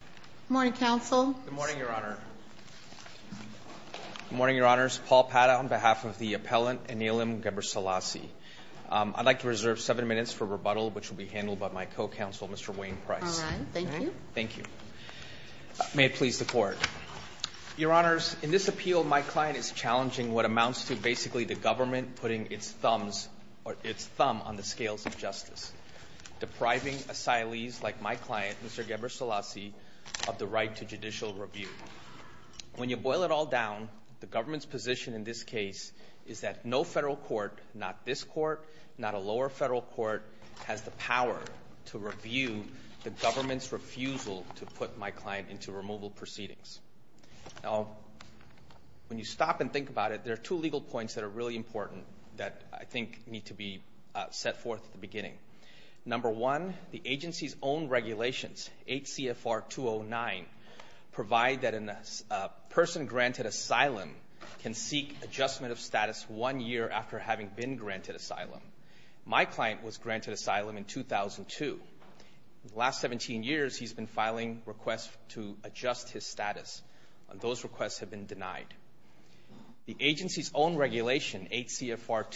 Good morning, Counsel. Good morning, Your Honor. Good morning, Your Honors. Paul Pata on behalf of the appellant, Annealem Gebreslasie. I'd like to reserve seven minutes for rebuttal, which will be handled by my co-counsel, Mr. Wayne Price. All right. Thank you. Thank you. May it please the Court. Your Honors, in this appeal, my client is challenging what amounts to basically the government putting its thumb on the scales of justice. Depriving asylees like my client, Mr. Gebreslasie, of the right to judicial review. When you boil it all down, the government's position in this case is that no federal court, not this court, not a lower federal court, has the power to review the government's refusal to put my client into removal proceedings. Now, when you stop and think about it, there are two legal points that are really important that I think need to be set forth at the beginning. Number one, the agency's own regulations, 8 CFR 209, provide that a person granted asylum can seek adjustment of status one year after having been granted asylum. My client was granted asylum in 2002. In the last 17 years, he's been filing requests to adjust his status. Those requests have been denied. The agency's own regulation, 8 CFR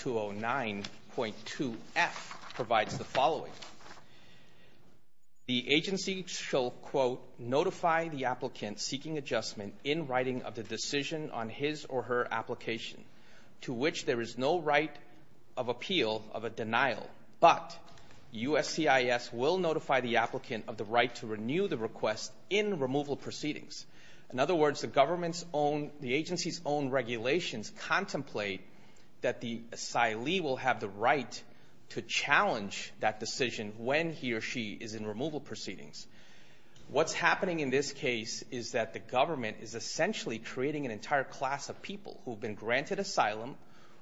209.2 F, provides the following. The agency shall, quote, notify the applicant seeking adjustment in writing of the decision on his or her application, to which there is no right of appeal of a denial. But USCIS will notify the applicant of the right to renew the request in removal proceedings. In other words, the agency's own regulations contemplate that the asylee will have the right to challenge that decision when he or she is in removal proceedings. What's happening in this case is that the government is essentially creating an entire class of people who have been granted asylum,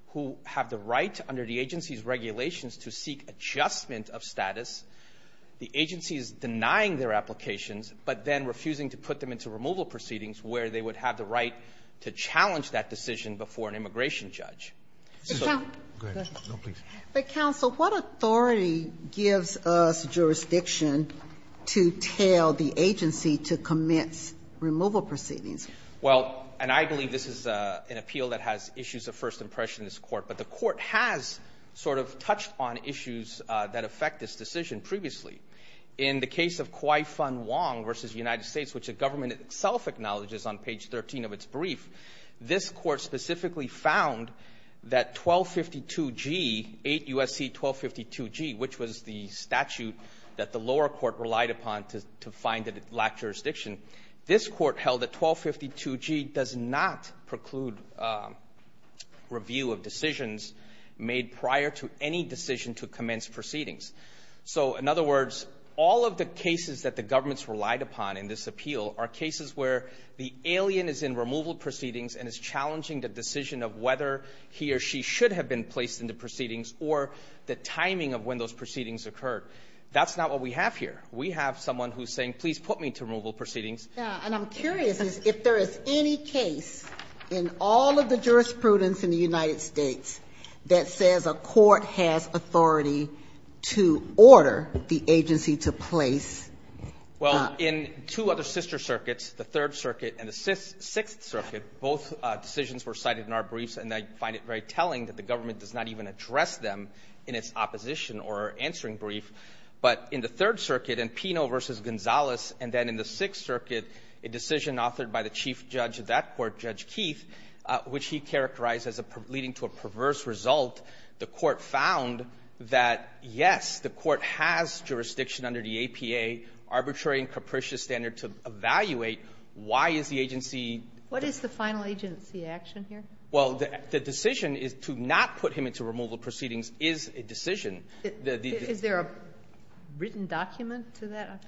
who have the right under the agency's regulations to seek adjustment of status. The agency is denying their applications, but then refusing to put them into removal proceedings, where they would have the right to challenge that decision before an immigration judge. But counsel, what authority gives us jurisdiction to tell the agency to commence removal proceedings? Well, and I believe this is an appeal that has issues of first impression in this court, but the court has sort of touched on issues that affect this decision previously. In the case of Kwai Fun Wong v. United States, which the government itself acknowledges on page 13 of its brief, this court specifically found that 1252G, 8 U.S.C. 1252G, which was the statute that the lower court relied upon to find that it lacked jurisdiction, this court held that 1252G does not preclude review of decisions made prior to any decision to commence proceedings. So, in other words, all of the cases that the government's relied upon in this appeal are cases where the alien is in removal proceedings and is challenging the decision of whether he or she should have been placed into proceedings, or the timing of when those proceedings occurred. That's not what we have here. We have someone who's saying, please put me to removal proceedings. And I'm curious if there is any case in all of the jurisprudence in the United States that says a court has authority to order the agency to place. Well, in two other sister circuits, the Third Circuit and the Sixth Circuit, both decisions were cited in our briefs, and I find it very telling that the government does not even address them in its opposition or answering brief. But in the Third Circuit, in Pino v. Gonzalez, and then in the Sixth Circuit, a decision authored by the chief judge of that court, Judge Keith, which he characterized as leading to a perverse result, the court found that, yes, the court has jurisdiction under the APA arbitrary and capricious standard to evaluate why is the agency What is the final agency action here? Well, the decision is to not put him into removal proceedings is a decision. Is there a written document to that?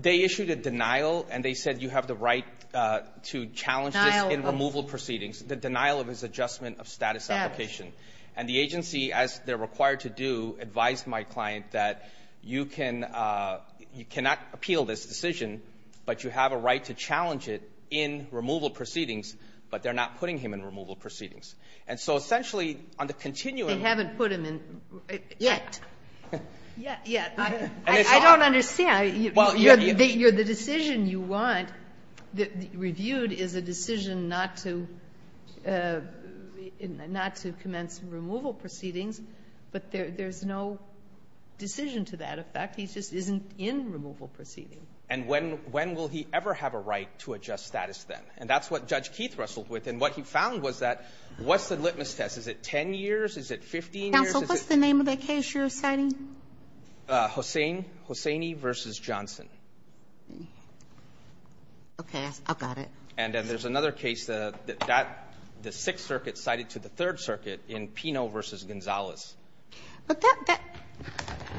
They issued a denial, and they said you have the right to challenge this in removal proceedings, the denial of his adjustment of status application. And the agency, as they're required to do, advised my client that you can you cannot appeal this decision, but you have a right to challenge it in removal proceedings, but they're not putting him in removal proceedings. And so essentially, on the continuum They haven't put him in yet. Yet, yet. I don't understand. The decision you want reviewed is a decision not to commence removal proceedings, but there's no decision to that effect. He just isn't in removal proceedings. And when will he ever have a right to adjust status then? And that's what Judge Keith wrestled with. And what he found was that what's the litmus test? Is it 10 years? Is it 15 years? Counsel, what's the name of the case you're citing? Hosseini versus Johnson. Okay. I've got it. And then there's another case that that the Sixth Circuit cited to the Third Circuit in Pino versus Gonzalez. But that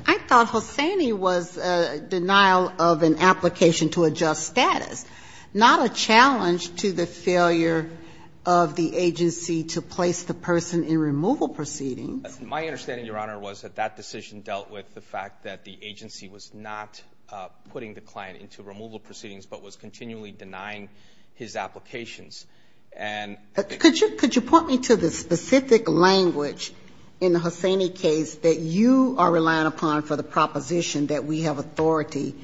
I thought Hosseini was a denial of an application to adjust status, not a challenge to the failure of the agency to place the person in removal proceedings. My understanding, Your Honor, was that that decision dealt with the fact that the agency was not putting the client into removal proceedings, but was continually denying his applications. And Could you point me to the specific language in the Hosseini case that you are relying upon for the proposition that we have authority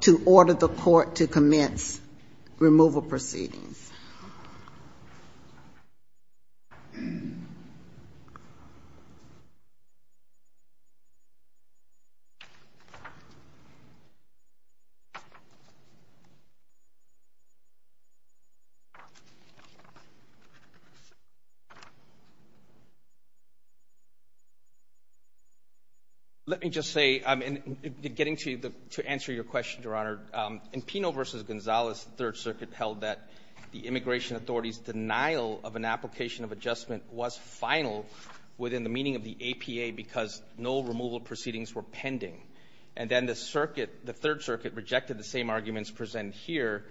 to order the court to commence removal proceedings? Let me just say, getting to answer your question, Your Honor, in Pino versus Gonzalez, the Third Circuit held that the immigration authority's denial of an application of adjustment was final within the meaning of the APA because no removal proceedings were pending. And then the Third Circuit rejected the same arguments presented here.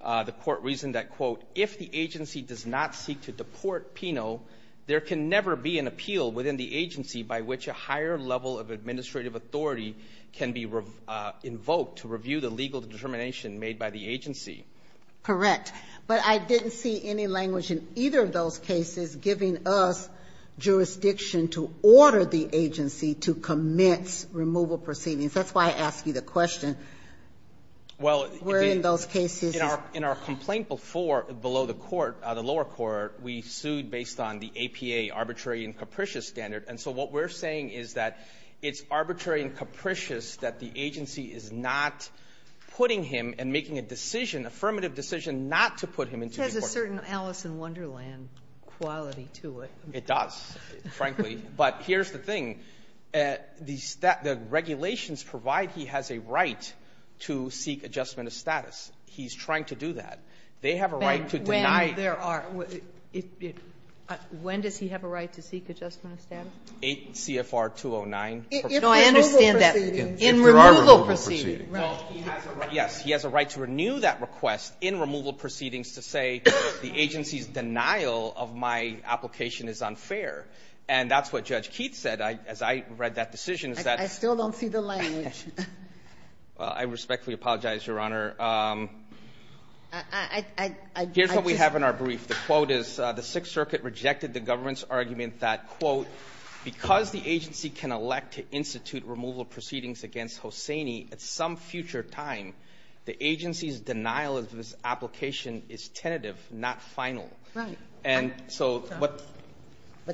The court reasoned that, quote, if the agency does not seek to deport Pino, there can never be an appeal within the agency by which a higher level of administrative authority can be invoked to review the legal determination made by the agency. Correct. But I didn't see any language in either of those cases giving us jurisdiction to order the agency to commence removal proceedings. That's why I asked you the question. Well, in our complaint before, below the lower court, we sued based on the APA arbitrary and capricious standard. And so what we're saying is that it's arbitrary and capricious that the agency is not putting him and making a decision, affirmative decision, not to put him into the court. It has a certain Alice in Wonderland quality to it. It does, frankly. But here's the thing. The regulations provide he has a right to seek adjustment of status. He's trying to do that. They have a right to deny it. Well, there are. When does he have a right to seek adjustment of status? CFR 209. No, I understand that. In removal proceedings. Yes, he has a right to renew that request in removal proceedings to say the agency's denial of my application is unfair. And that's what Judge Keith said as I read that decision. I still don't see the language. I respectfully apologize, Your Honor. Here's what we have in our brief. The quote is, the Sixth Circuit rejected the government's argument that, quote, because the agency can elect to institute removal proceedings against Hosseini at some future time, the agency's denial of his application is tentative, not final. Right. But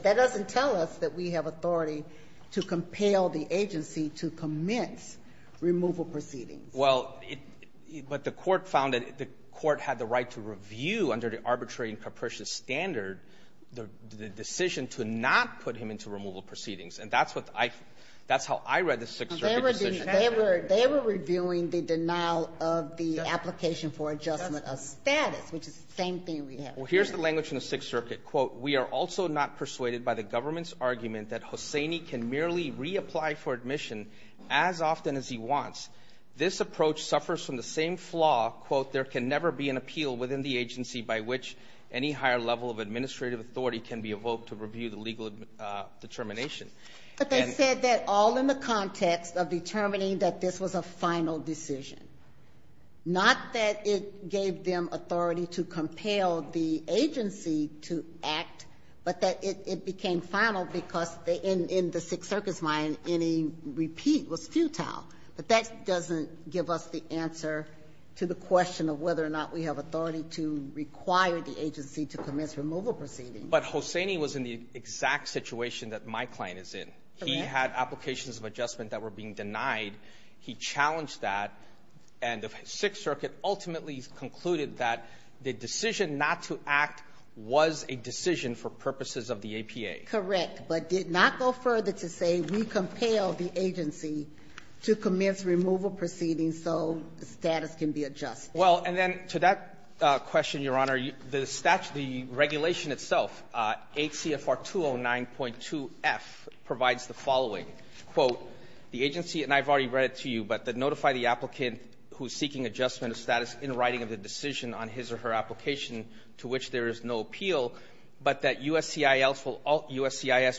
that doesn't tell us that we have authority to compel the agency to commence removal proceedings. Well, but the court found that the court had the right to review under the arbitrary and capricious standard the decision to not put him into removal proceedings. And that's how I read the Sixth Circuit decision. They were reviewing the denial of the application for adjustment of status, which is the same thing we have here. Well, here's the language from the Sixth Circuit. Quote, we are also not persuaded by the government's argument that Hosseini can merely reapply for admission as often as he wants. This approach suffers from the same flaw, quote, there can never be an appeal within the agency by which any higher level of administrative authority can be evoked to review the legal determination. But they said that all in the context of determining that this was a final decision. Not that it gave them authority to compel the agency to act, but that it became final because in the Sixth Circuit's mind, any repeat was futile. But that doesn't give us the answer to the question of whether or not we have authority to require the agency to commence removal proceedings. But Hosseini was in the exact situation that my client is in. He had applications of adjustment that were being denied. He challenged that. And the Sixth Circuit ultimately concluded that the decision not to act was a decision for purposes of the APA. Correct. But did not go further to say we compel the agency to commence removal proceedings so the status can be adjusted. Well, and then to that question, Your Honor, the regulation itself, 8 CFR 209.2F, provides the following. Quote, the agency, and I've already read it to you, but that notify the applicant who is seeking adjustment of status in writing of the decision on his or her application to which there is no appeal, but that USCIS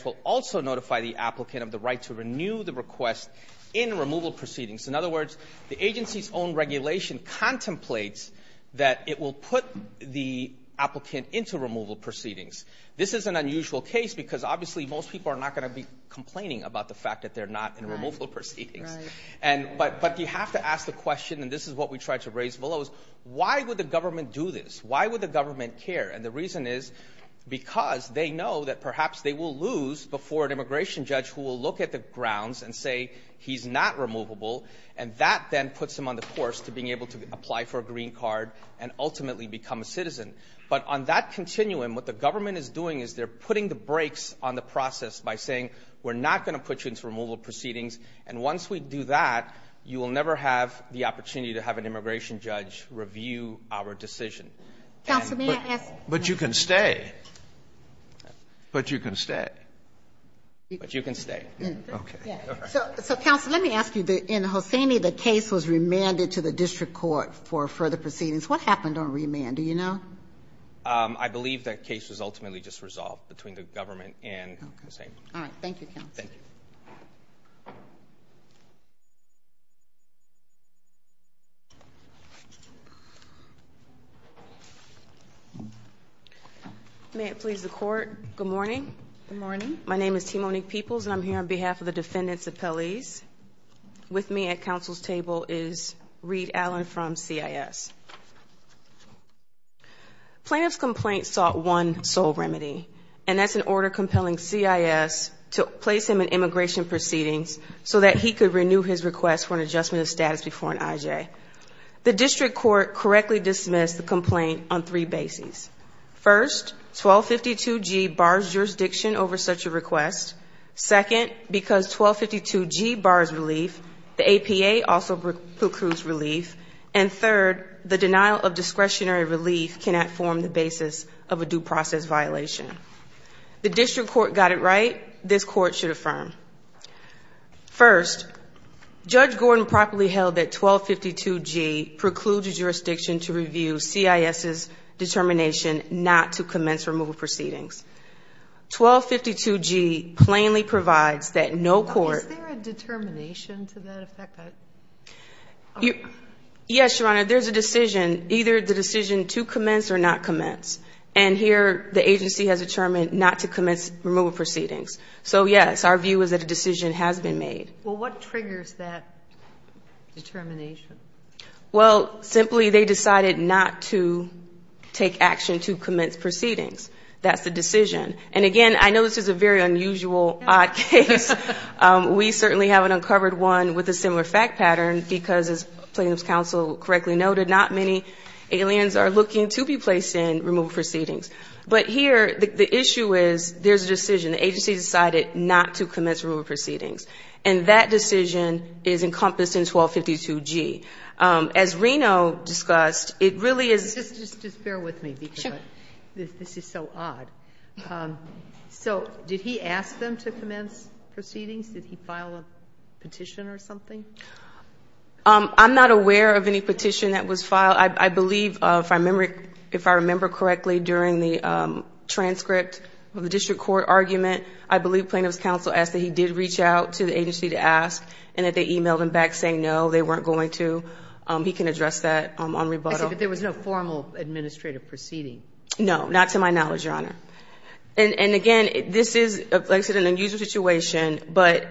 will also notify the applicant of the right to renew the request in removal proceedings. In other words, the agency's own regulation contemplates that it will put the applicant into removal proceedings. This is an unusual case because obviously most people are not going to be complaining about the fact that they're not in removal proceedings. Right. But you have to ask the question, and this is what we try to raise below, is why would the government do this? Why would the government care? And the reason is because they know that perhaps they will lose before an immigration judge who will look at the grounds and say he's not removable, and that then puts them on the course to being able to apply for a green card and ultimately become a citizen. But on that continuum, what the government is doing is they're putting the brakes on the process by saying, we're not going to put you into removal proceedings, and once we do that, you will never have the opportunity to have an immigration judge review our decision. Counsel, may I ask? But you can stay. But you can stay. But you can stay. Okay. So, counsel, let me ask you. In Hosseini, the case was remanded to the district court for further proceedings. What happened on remand? Do you know? I believe that case was ultimately just resolved between the government and Hosseini. All right. Thank you, counsel. Thank you. May it please the court. Good morning. Good morning. My name is Timonique Peoples, and I'm here on behalf of the defendants' appellees. With me at counsel's table is Reed Allen from CIS. Plaintiff's complaint sought one sole remedy, and that's an order compelling CIS to place him in immigration proceedings so that he could renew his request for an adjustment of status before an IJ. The district court correctly dismissed the complaint on three bases. First, 1252G bars jurisdiction over such a request. Second, because 1252G bars relief, the APA also precludes relief. And third, the denial of discretionary relief cannot form the basis of a due process violation. The district court got it right. This court should affirm. First, Judge Gordon properly held that 1252G precludes jurisdiction to review CIS's determination not to commence removal proceedings. 1252G plainly provides that no court ---- Is there a determination to that effect? Yes, Your Honor. There's a decision, either the decision to commence or not commence. And here the agency has determined not to commence removal proceedings. So, yes, our view is that a decision has been made. Well, what triggers that determination? Well, simply they decided not to take action to commence proceedings. That's the decision. And, again, I know this is a very unusual, odd case. We certainly haven't uncovered one with a similar fact pattern because, as plaintiff's counsel correctly noted, not many aliens are looking to be placed in removal proceedings. But here the issue is there's a decision. The agency decided not to commence removal proceedings. And that decision is encompassed in 1252G. As Reno discussed, it really is ---- Just bear with me because this is so odd. So did he ask them to commence proceedings? Did he file a petition or something? I'm not aware of any petition that was filed. Well, I believe, if I remember correctly, during the transcript of the district court argument, I believe plaintiff's counsel asked that he did reach out to the agency to ask and that they emailed him back saying, no, they weren't going to. He can address that on rebuttal. I see. But there was no formal administrative proceeding. No, not to my knowledge, Your Honor. And, again, this is, like I said, an unusual situation. But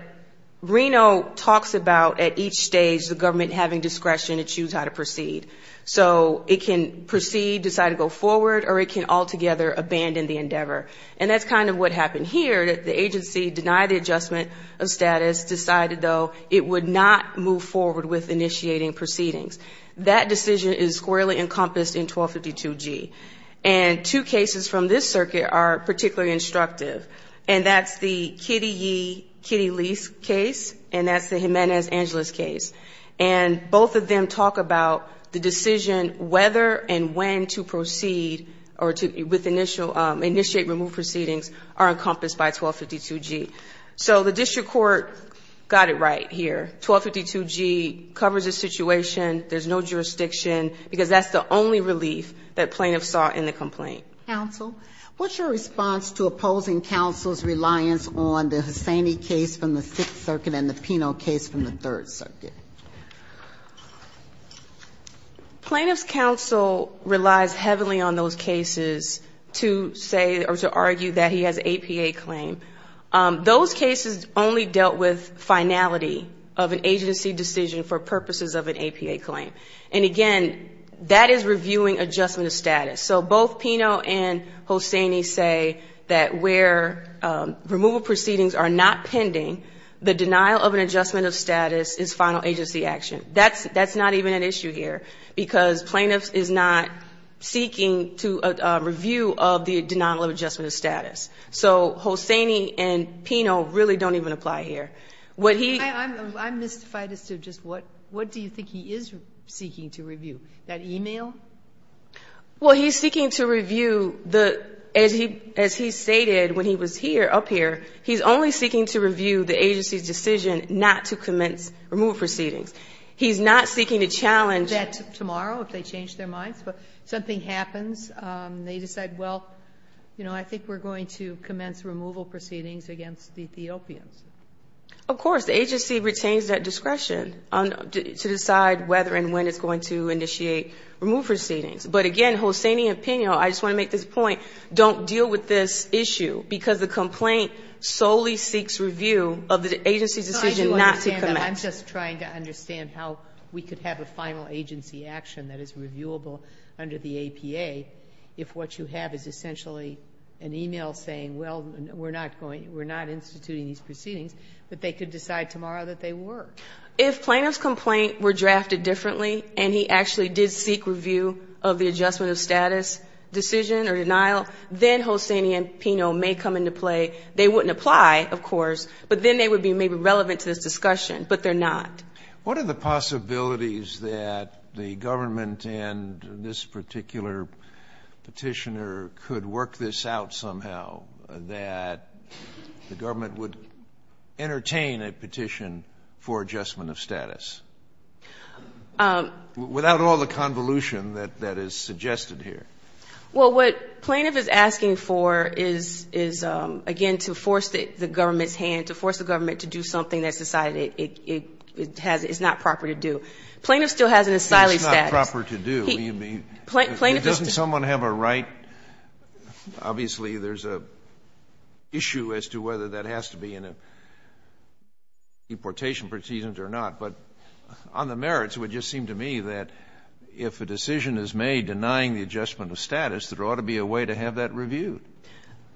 Reno talks about at each stage the government having discretion to choose how to proceed. So it can proceed, decide to go forward, or it can altogether abandon the endeavor. And that's kind of what happened here. The agency denied the adjustment of status, decided, though, it would not move forward with initiating proceedings. That decision is squarely encompassed in 1252G. And two cases from this circuit are particularly instructive. And that's the Kitty Yee, Kitty Lease case, and that's the Jimenez Angeles case. And both of them talk about the decision whether and when to proceed or to initiate removed proceedings are encompassed by 1252G. So the district court got it right here. 1252G covers the situation. There's no jurisdiction because that's the only relief that plaintiff saw in the complaint. Counsel, what's your response to opposing counsel's reliance on the Hussaini case from the Sixth Circuit and the Pinot case from the Third Circuit? Plaintiff's counsel relies heavily on those cases to say or to argue that he has APA claim. Those cases only dealt with finality of an agency decision for purposes of an APA claim. And, again, that is reviewing adjustment of status. So both Pinot and Hussaini say that where removal proceedings are not pending, the denial of an adjustment of status is final agency action. That's not even an issue here because plaintiff is not seeking to review of the denial of adjustment of status. So Hussaini and Pinot really don't even apply here. I'm mystified as to just what do you think he is seeking to review, that e-mail? Well, he's seeking to review, as he stated when he was here, up here, he's only seeking to review the agency's decision not to commence removal proceedings. He's not seeking to challenge that tomorrow if they change their minds. But if something happens, they decide, well, you know, I think we're going to commence removal proceedings against the Ethiopians. Of course. The agency retains that discretion to decide whether and when it's going to initiate removal proceedings. But, again, Hussaini and Pinot, I just want to make this point, don't deal with this issue because the complaint solely seeks review of the agency's decision not to commence. I'm just trying to understand how we could have a final agency action that is reviewable under the APA if what you have is essentially an e-mail saying, well, we're not instituting these proceedings, but they could decide tomorrow that they were. If plaintiff's complaint were drafted differently and he actually did seek review of the adjustment of status decision or denial, then Hussaini and Pinot may come into play. They wouldn't apply, of course, but then they would be maybe relevant to this discussion, but they're not. What are the possibilities that the government and this particular Petitioner could work this out somehow that the government would entertain a petition for adjustment of status? Without all the convolution that is suggested here. Well, what plaintiff is asking for is, again, to force the government's hand, to force the government to do something that's decided it's not proper to do. Plaintiff still has an asylum status. It's not proper to do. Doesn't someone have a right? Obviously, there's an issue as to whether that has to be in a deportation proceedings or not. But on the merits, it would just seem to me that if a decision is made denying the adjustment of status, there ought to be a way to have that reviewed.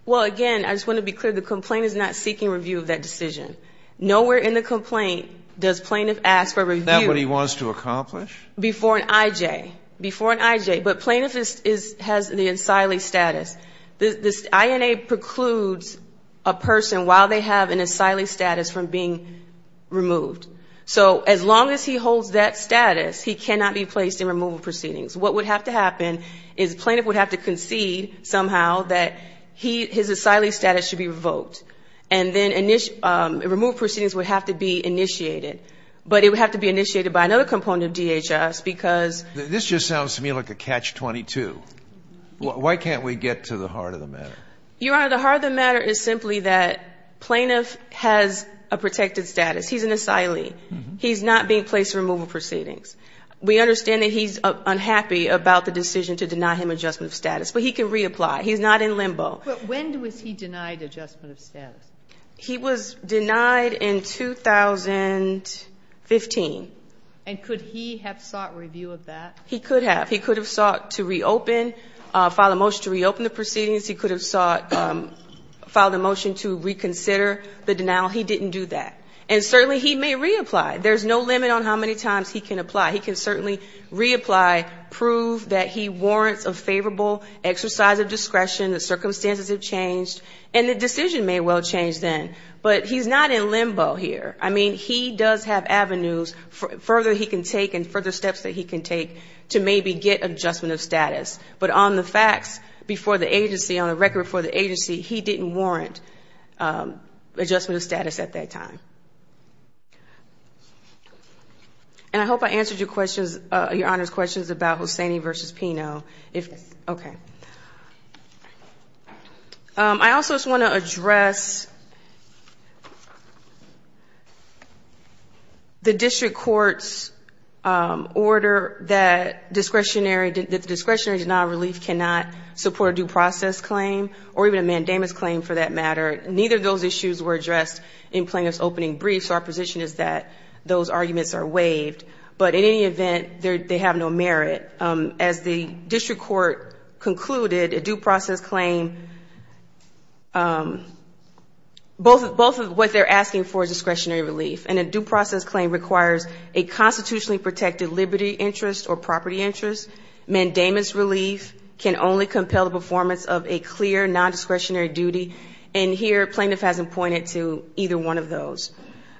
Well, again, I just want to be clear. The complaint is not seeking review of that decision. Nowhere in the complaint does plaintiff ask for review. Isn't that what he wants to accomplish? Before an IJ. Before an IJ. But plaintiff has the asylee status. This INA precludes a person, while they have an asylee status, from being removed. So as long as he holds that status, he cannot be placed in removal proceedings. What would have to happen is plaintiff would have to concede somehow that his asylee status should be revoked. And then removal proceedings would have to be initiated. But it would have to be initiated by another component of DHS because. This just sounds to me like a catch-22. Why can't we get to the heart of the matter? Your Honor, the heart of the matter is simply that plaintiff has a protected status. He's an asylee. He's not being placed in removal proceedings. We understand that he's unhappy about the decision to deny him adjustment of status. But he can reapply. He's not in limbo. But when was he denied adjustment of status? He was denied in 2015. And could he have sought review of that? He could have. He could have sought to reopen, filed a motion to reopen the proceedings. He could have sought, filed a motion to reconsider the denial. He didn't do that. And certainly he may reapply. There's no limit on how many times he can apply. He can certainly reapply, prove that he warrants a favorable exercise of discretion, the circumstances have changed, and the decision may well change then. But he's not in limbo here. I mean, he does have avenues further he can take and further steps that he can take to maybe get adjustment of status. But on the facts before the agency, on the record before the agency, he didn't warrant adjustment of status at that time. And I hope I answered your questions, Your Honor's questions about Hossaini v. Pino. Yes. Okay. I also just want to address the district court's order that discretionary denial of relief cannot support a due process claim or even a mandamus claim for that matter. Neither of those issues were addressed in plaintiff's opening brief, so our position is that those arguments are waived. But in any event, they have no merit. As the district court concluded, a due process claim, both of what they're asking for is discretionary relief. And a due process claim requires a constitutionally protected liberty interest or property interest. Mandamus relief can only compel the performance of a clear nondiscretionary duty. And here plaintiff hasn't pointed to either one of those.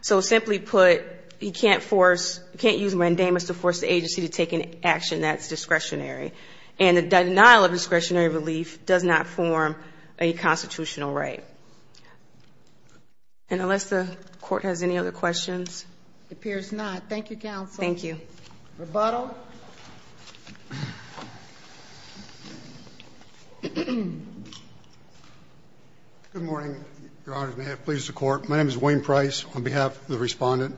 So simply put, you can't force, you can't use mandamus to force the agency to take an action that's discretionary. And the denial of discretionary relief does not form a constitutional right. And unless the court has any other questions. It appears not. Thank you, counsel. Thank you. Rebuttal. Good morning, Your Honor. May it please the court. My name is Wayne Price on behalf of the Respondent.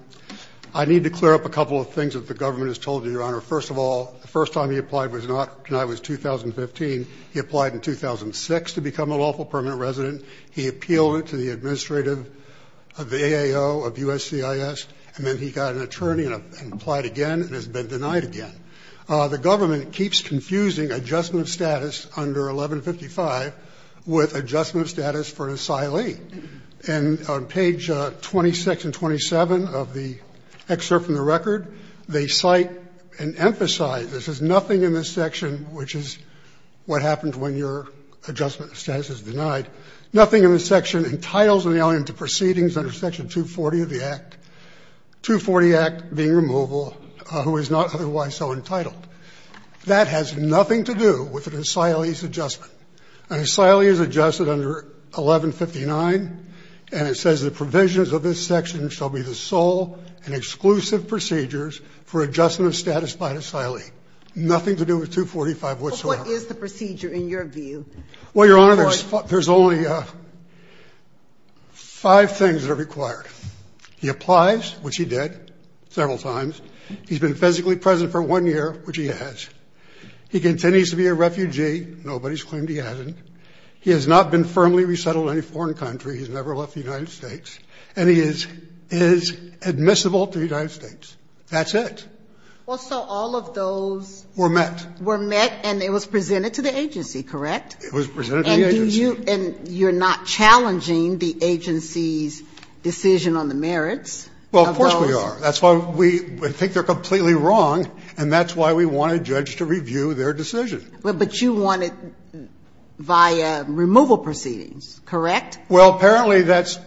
I need to clear up a couple of things that the government has told you, Your Honor. First of all, the first time he applied was not, tonight was 2015. He applied in 2006 to become a lawful permanent resident. He appealed it to the administrative of the AAO of USCIS. And then he got an attorney and applied again and has been denied again. The government keeps confusing adjustment of status under 1155 with adjustment of status for an asylee. And on page 26 and 27 of the excerpt from the record, they cite and emphasize this as nothing in this section, which is what happens when your adjustment of status is denied, nothing in this section entitles an asylee to proceedings under Section 240 of the Act, 240 Act being removal, who is not otherwise so entitled. That has nothing to do with an asylee's adjustment. An asylee is adjusted under 1159, and it says the provisions of this section shall be the sole and exclusive procedures for adjustment of status by an asylee, nothing to do with 245 whatsoever. But what is the procedure in your view? Well, Your Honor, there's only five things that are required. He applies, which he did several times. He's been physically present for one year, which he has. He continues to be a refugee. Nobody's claimed he hasn't. He has not been firmly resettled in any foreign country. He's never left the United States. And he is admissible to the United States. That's it. Well, so all of those were met. Were met, and it was presented to the agency, correct? It was presented to the agency. And you're not challenging the agency's decision on the merits of those? Well, of course we are. That's why we think they're completely wrong, and that's why we want a judge to review their decision. But you want it via removal proceedings, correct? Well, apparently that's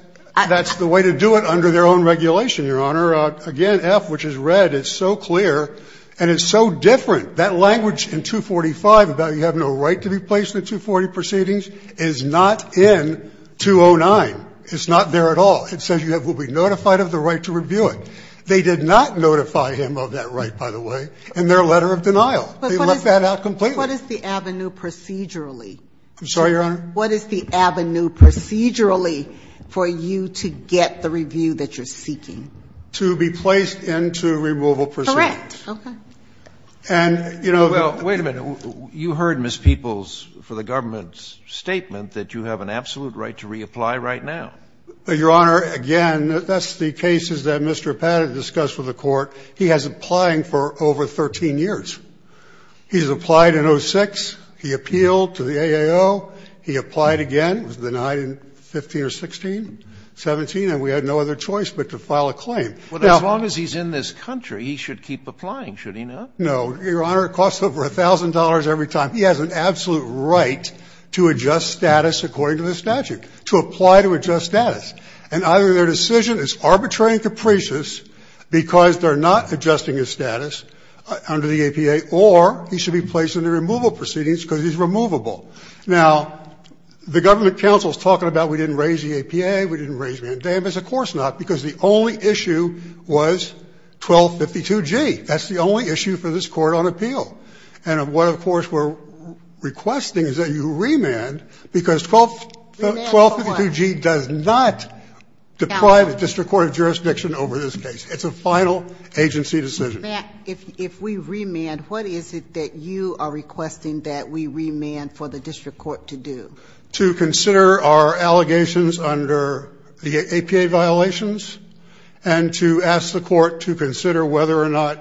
the way to do it under their own regulation, Your Honor. Again, F, which is red, it's so clear and it's so different. That language in 245 about you have no right to be placed in a 240 proceedings is not in 209. It's not there at all. It says you will be notified of the right to review it. They did not notify him of that right, by the way, in their letter of denial. They left that out completely. But what is the avenue procedurally? I'm sorry, Your Honor? What is the avenue procedurally for you to get the review that you're seeking? To be placed into removal proceedings. Okay. And, you know the other thing is that you have an absolute right to reapply right now. Your Honor, again, that's the cases that Mr. Appad did discuss with the Court. He has been applying for over 13 years. He's applied in 06. He appealed to the AAO. He applied again. He was denied in 15 or 16, 17, and we had no other choice but to file a claim. Well, as long as he's in this country, he should keep applying, should he not? No. Your Honor, it costs over $1,000 every time. He has an absolute right to adjust status according to the statute, to apply to adjust status, and either their decision is arbitrary and capricious because they're not adjusting his status under the APA, or he should be placed into removal proceedings because he's removable. Now, the government counsel is talking about we didn't raise the APA, we didn't raise mandamus. Of course not, because the only issue was 1252G. That's the only issue for this Court on appeal. And what, of course, we're requesting is that you remand because 1252G does nothing to deprive the district court of jurisdiction over this case. It's a final agency decision. If we remand, what is it that you are requesting that we remand for the district court to do? To consider our allegations under the APA violations and to ask the Court to consider whether or not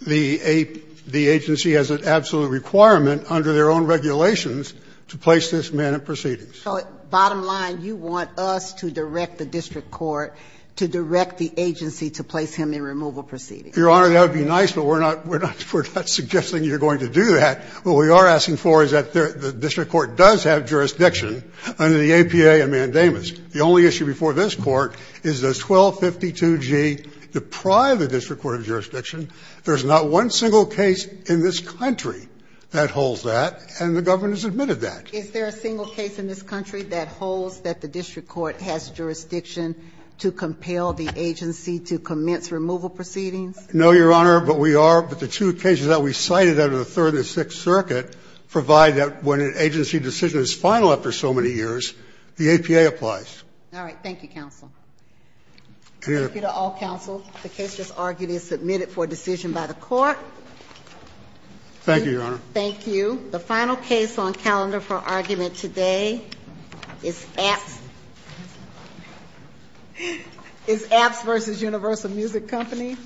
the agency has an absolute requirement under their own regulations to place this man in proceedings. So bottom line, you want us to direct the district court to direct the agency to place him in removal proceedings. Your Honor, that would be nice, but we're not suggesting you're going to do that. What we are asking for is that the district court does have jurisdiction under the APA and mandamus. The only issue before this Court is does 1252G deprive the district court of jurisdiction? There's not one single case in this country that holds that, and the government has admitted that. Is there a single case in this country that holds that the district court has jurisdiction to compel the agency to commence removal proceedings? No, Your Honor, but we are. But the two cases that we cited under the Third and the Sixth Circuit provide that when an agency decision is final after so many years, the APA applies. All right. Thank you, counsel. Thank you to all counsel. The case just argued is submitted for decision by the Court. Thank you, Your Honor. Thank you. The final case on calendar for argument today is Apps versus Universal Music Company.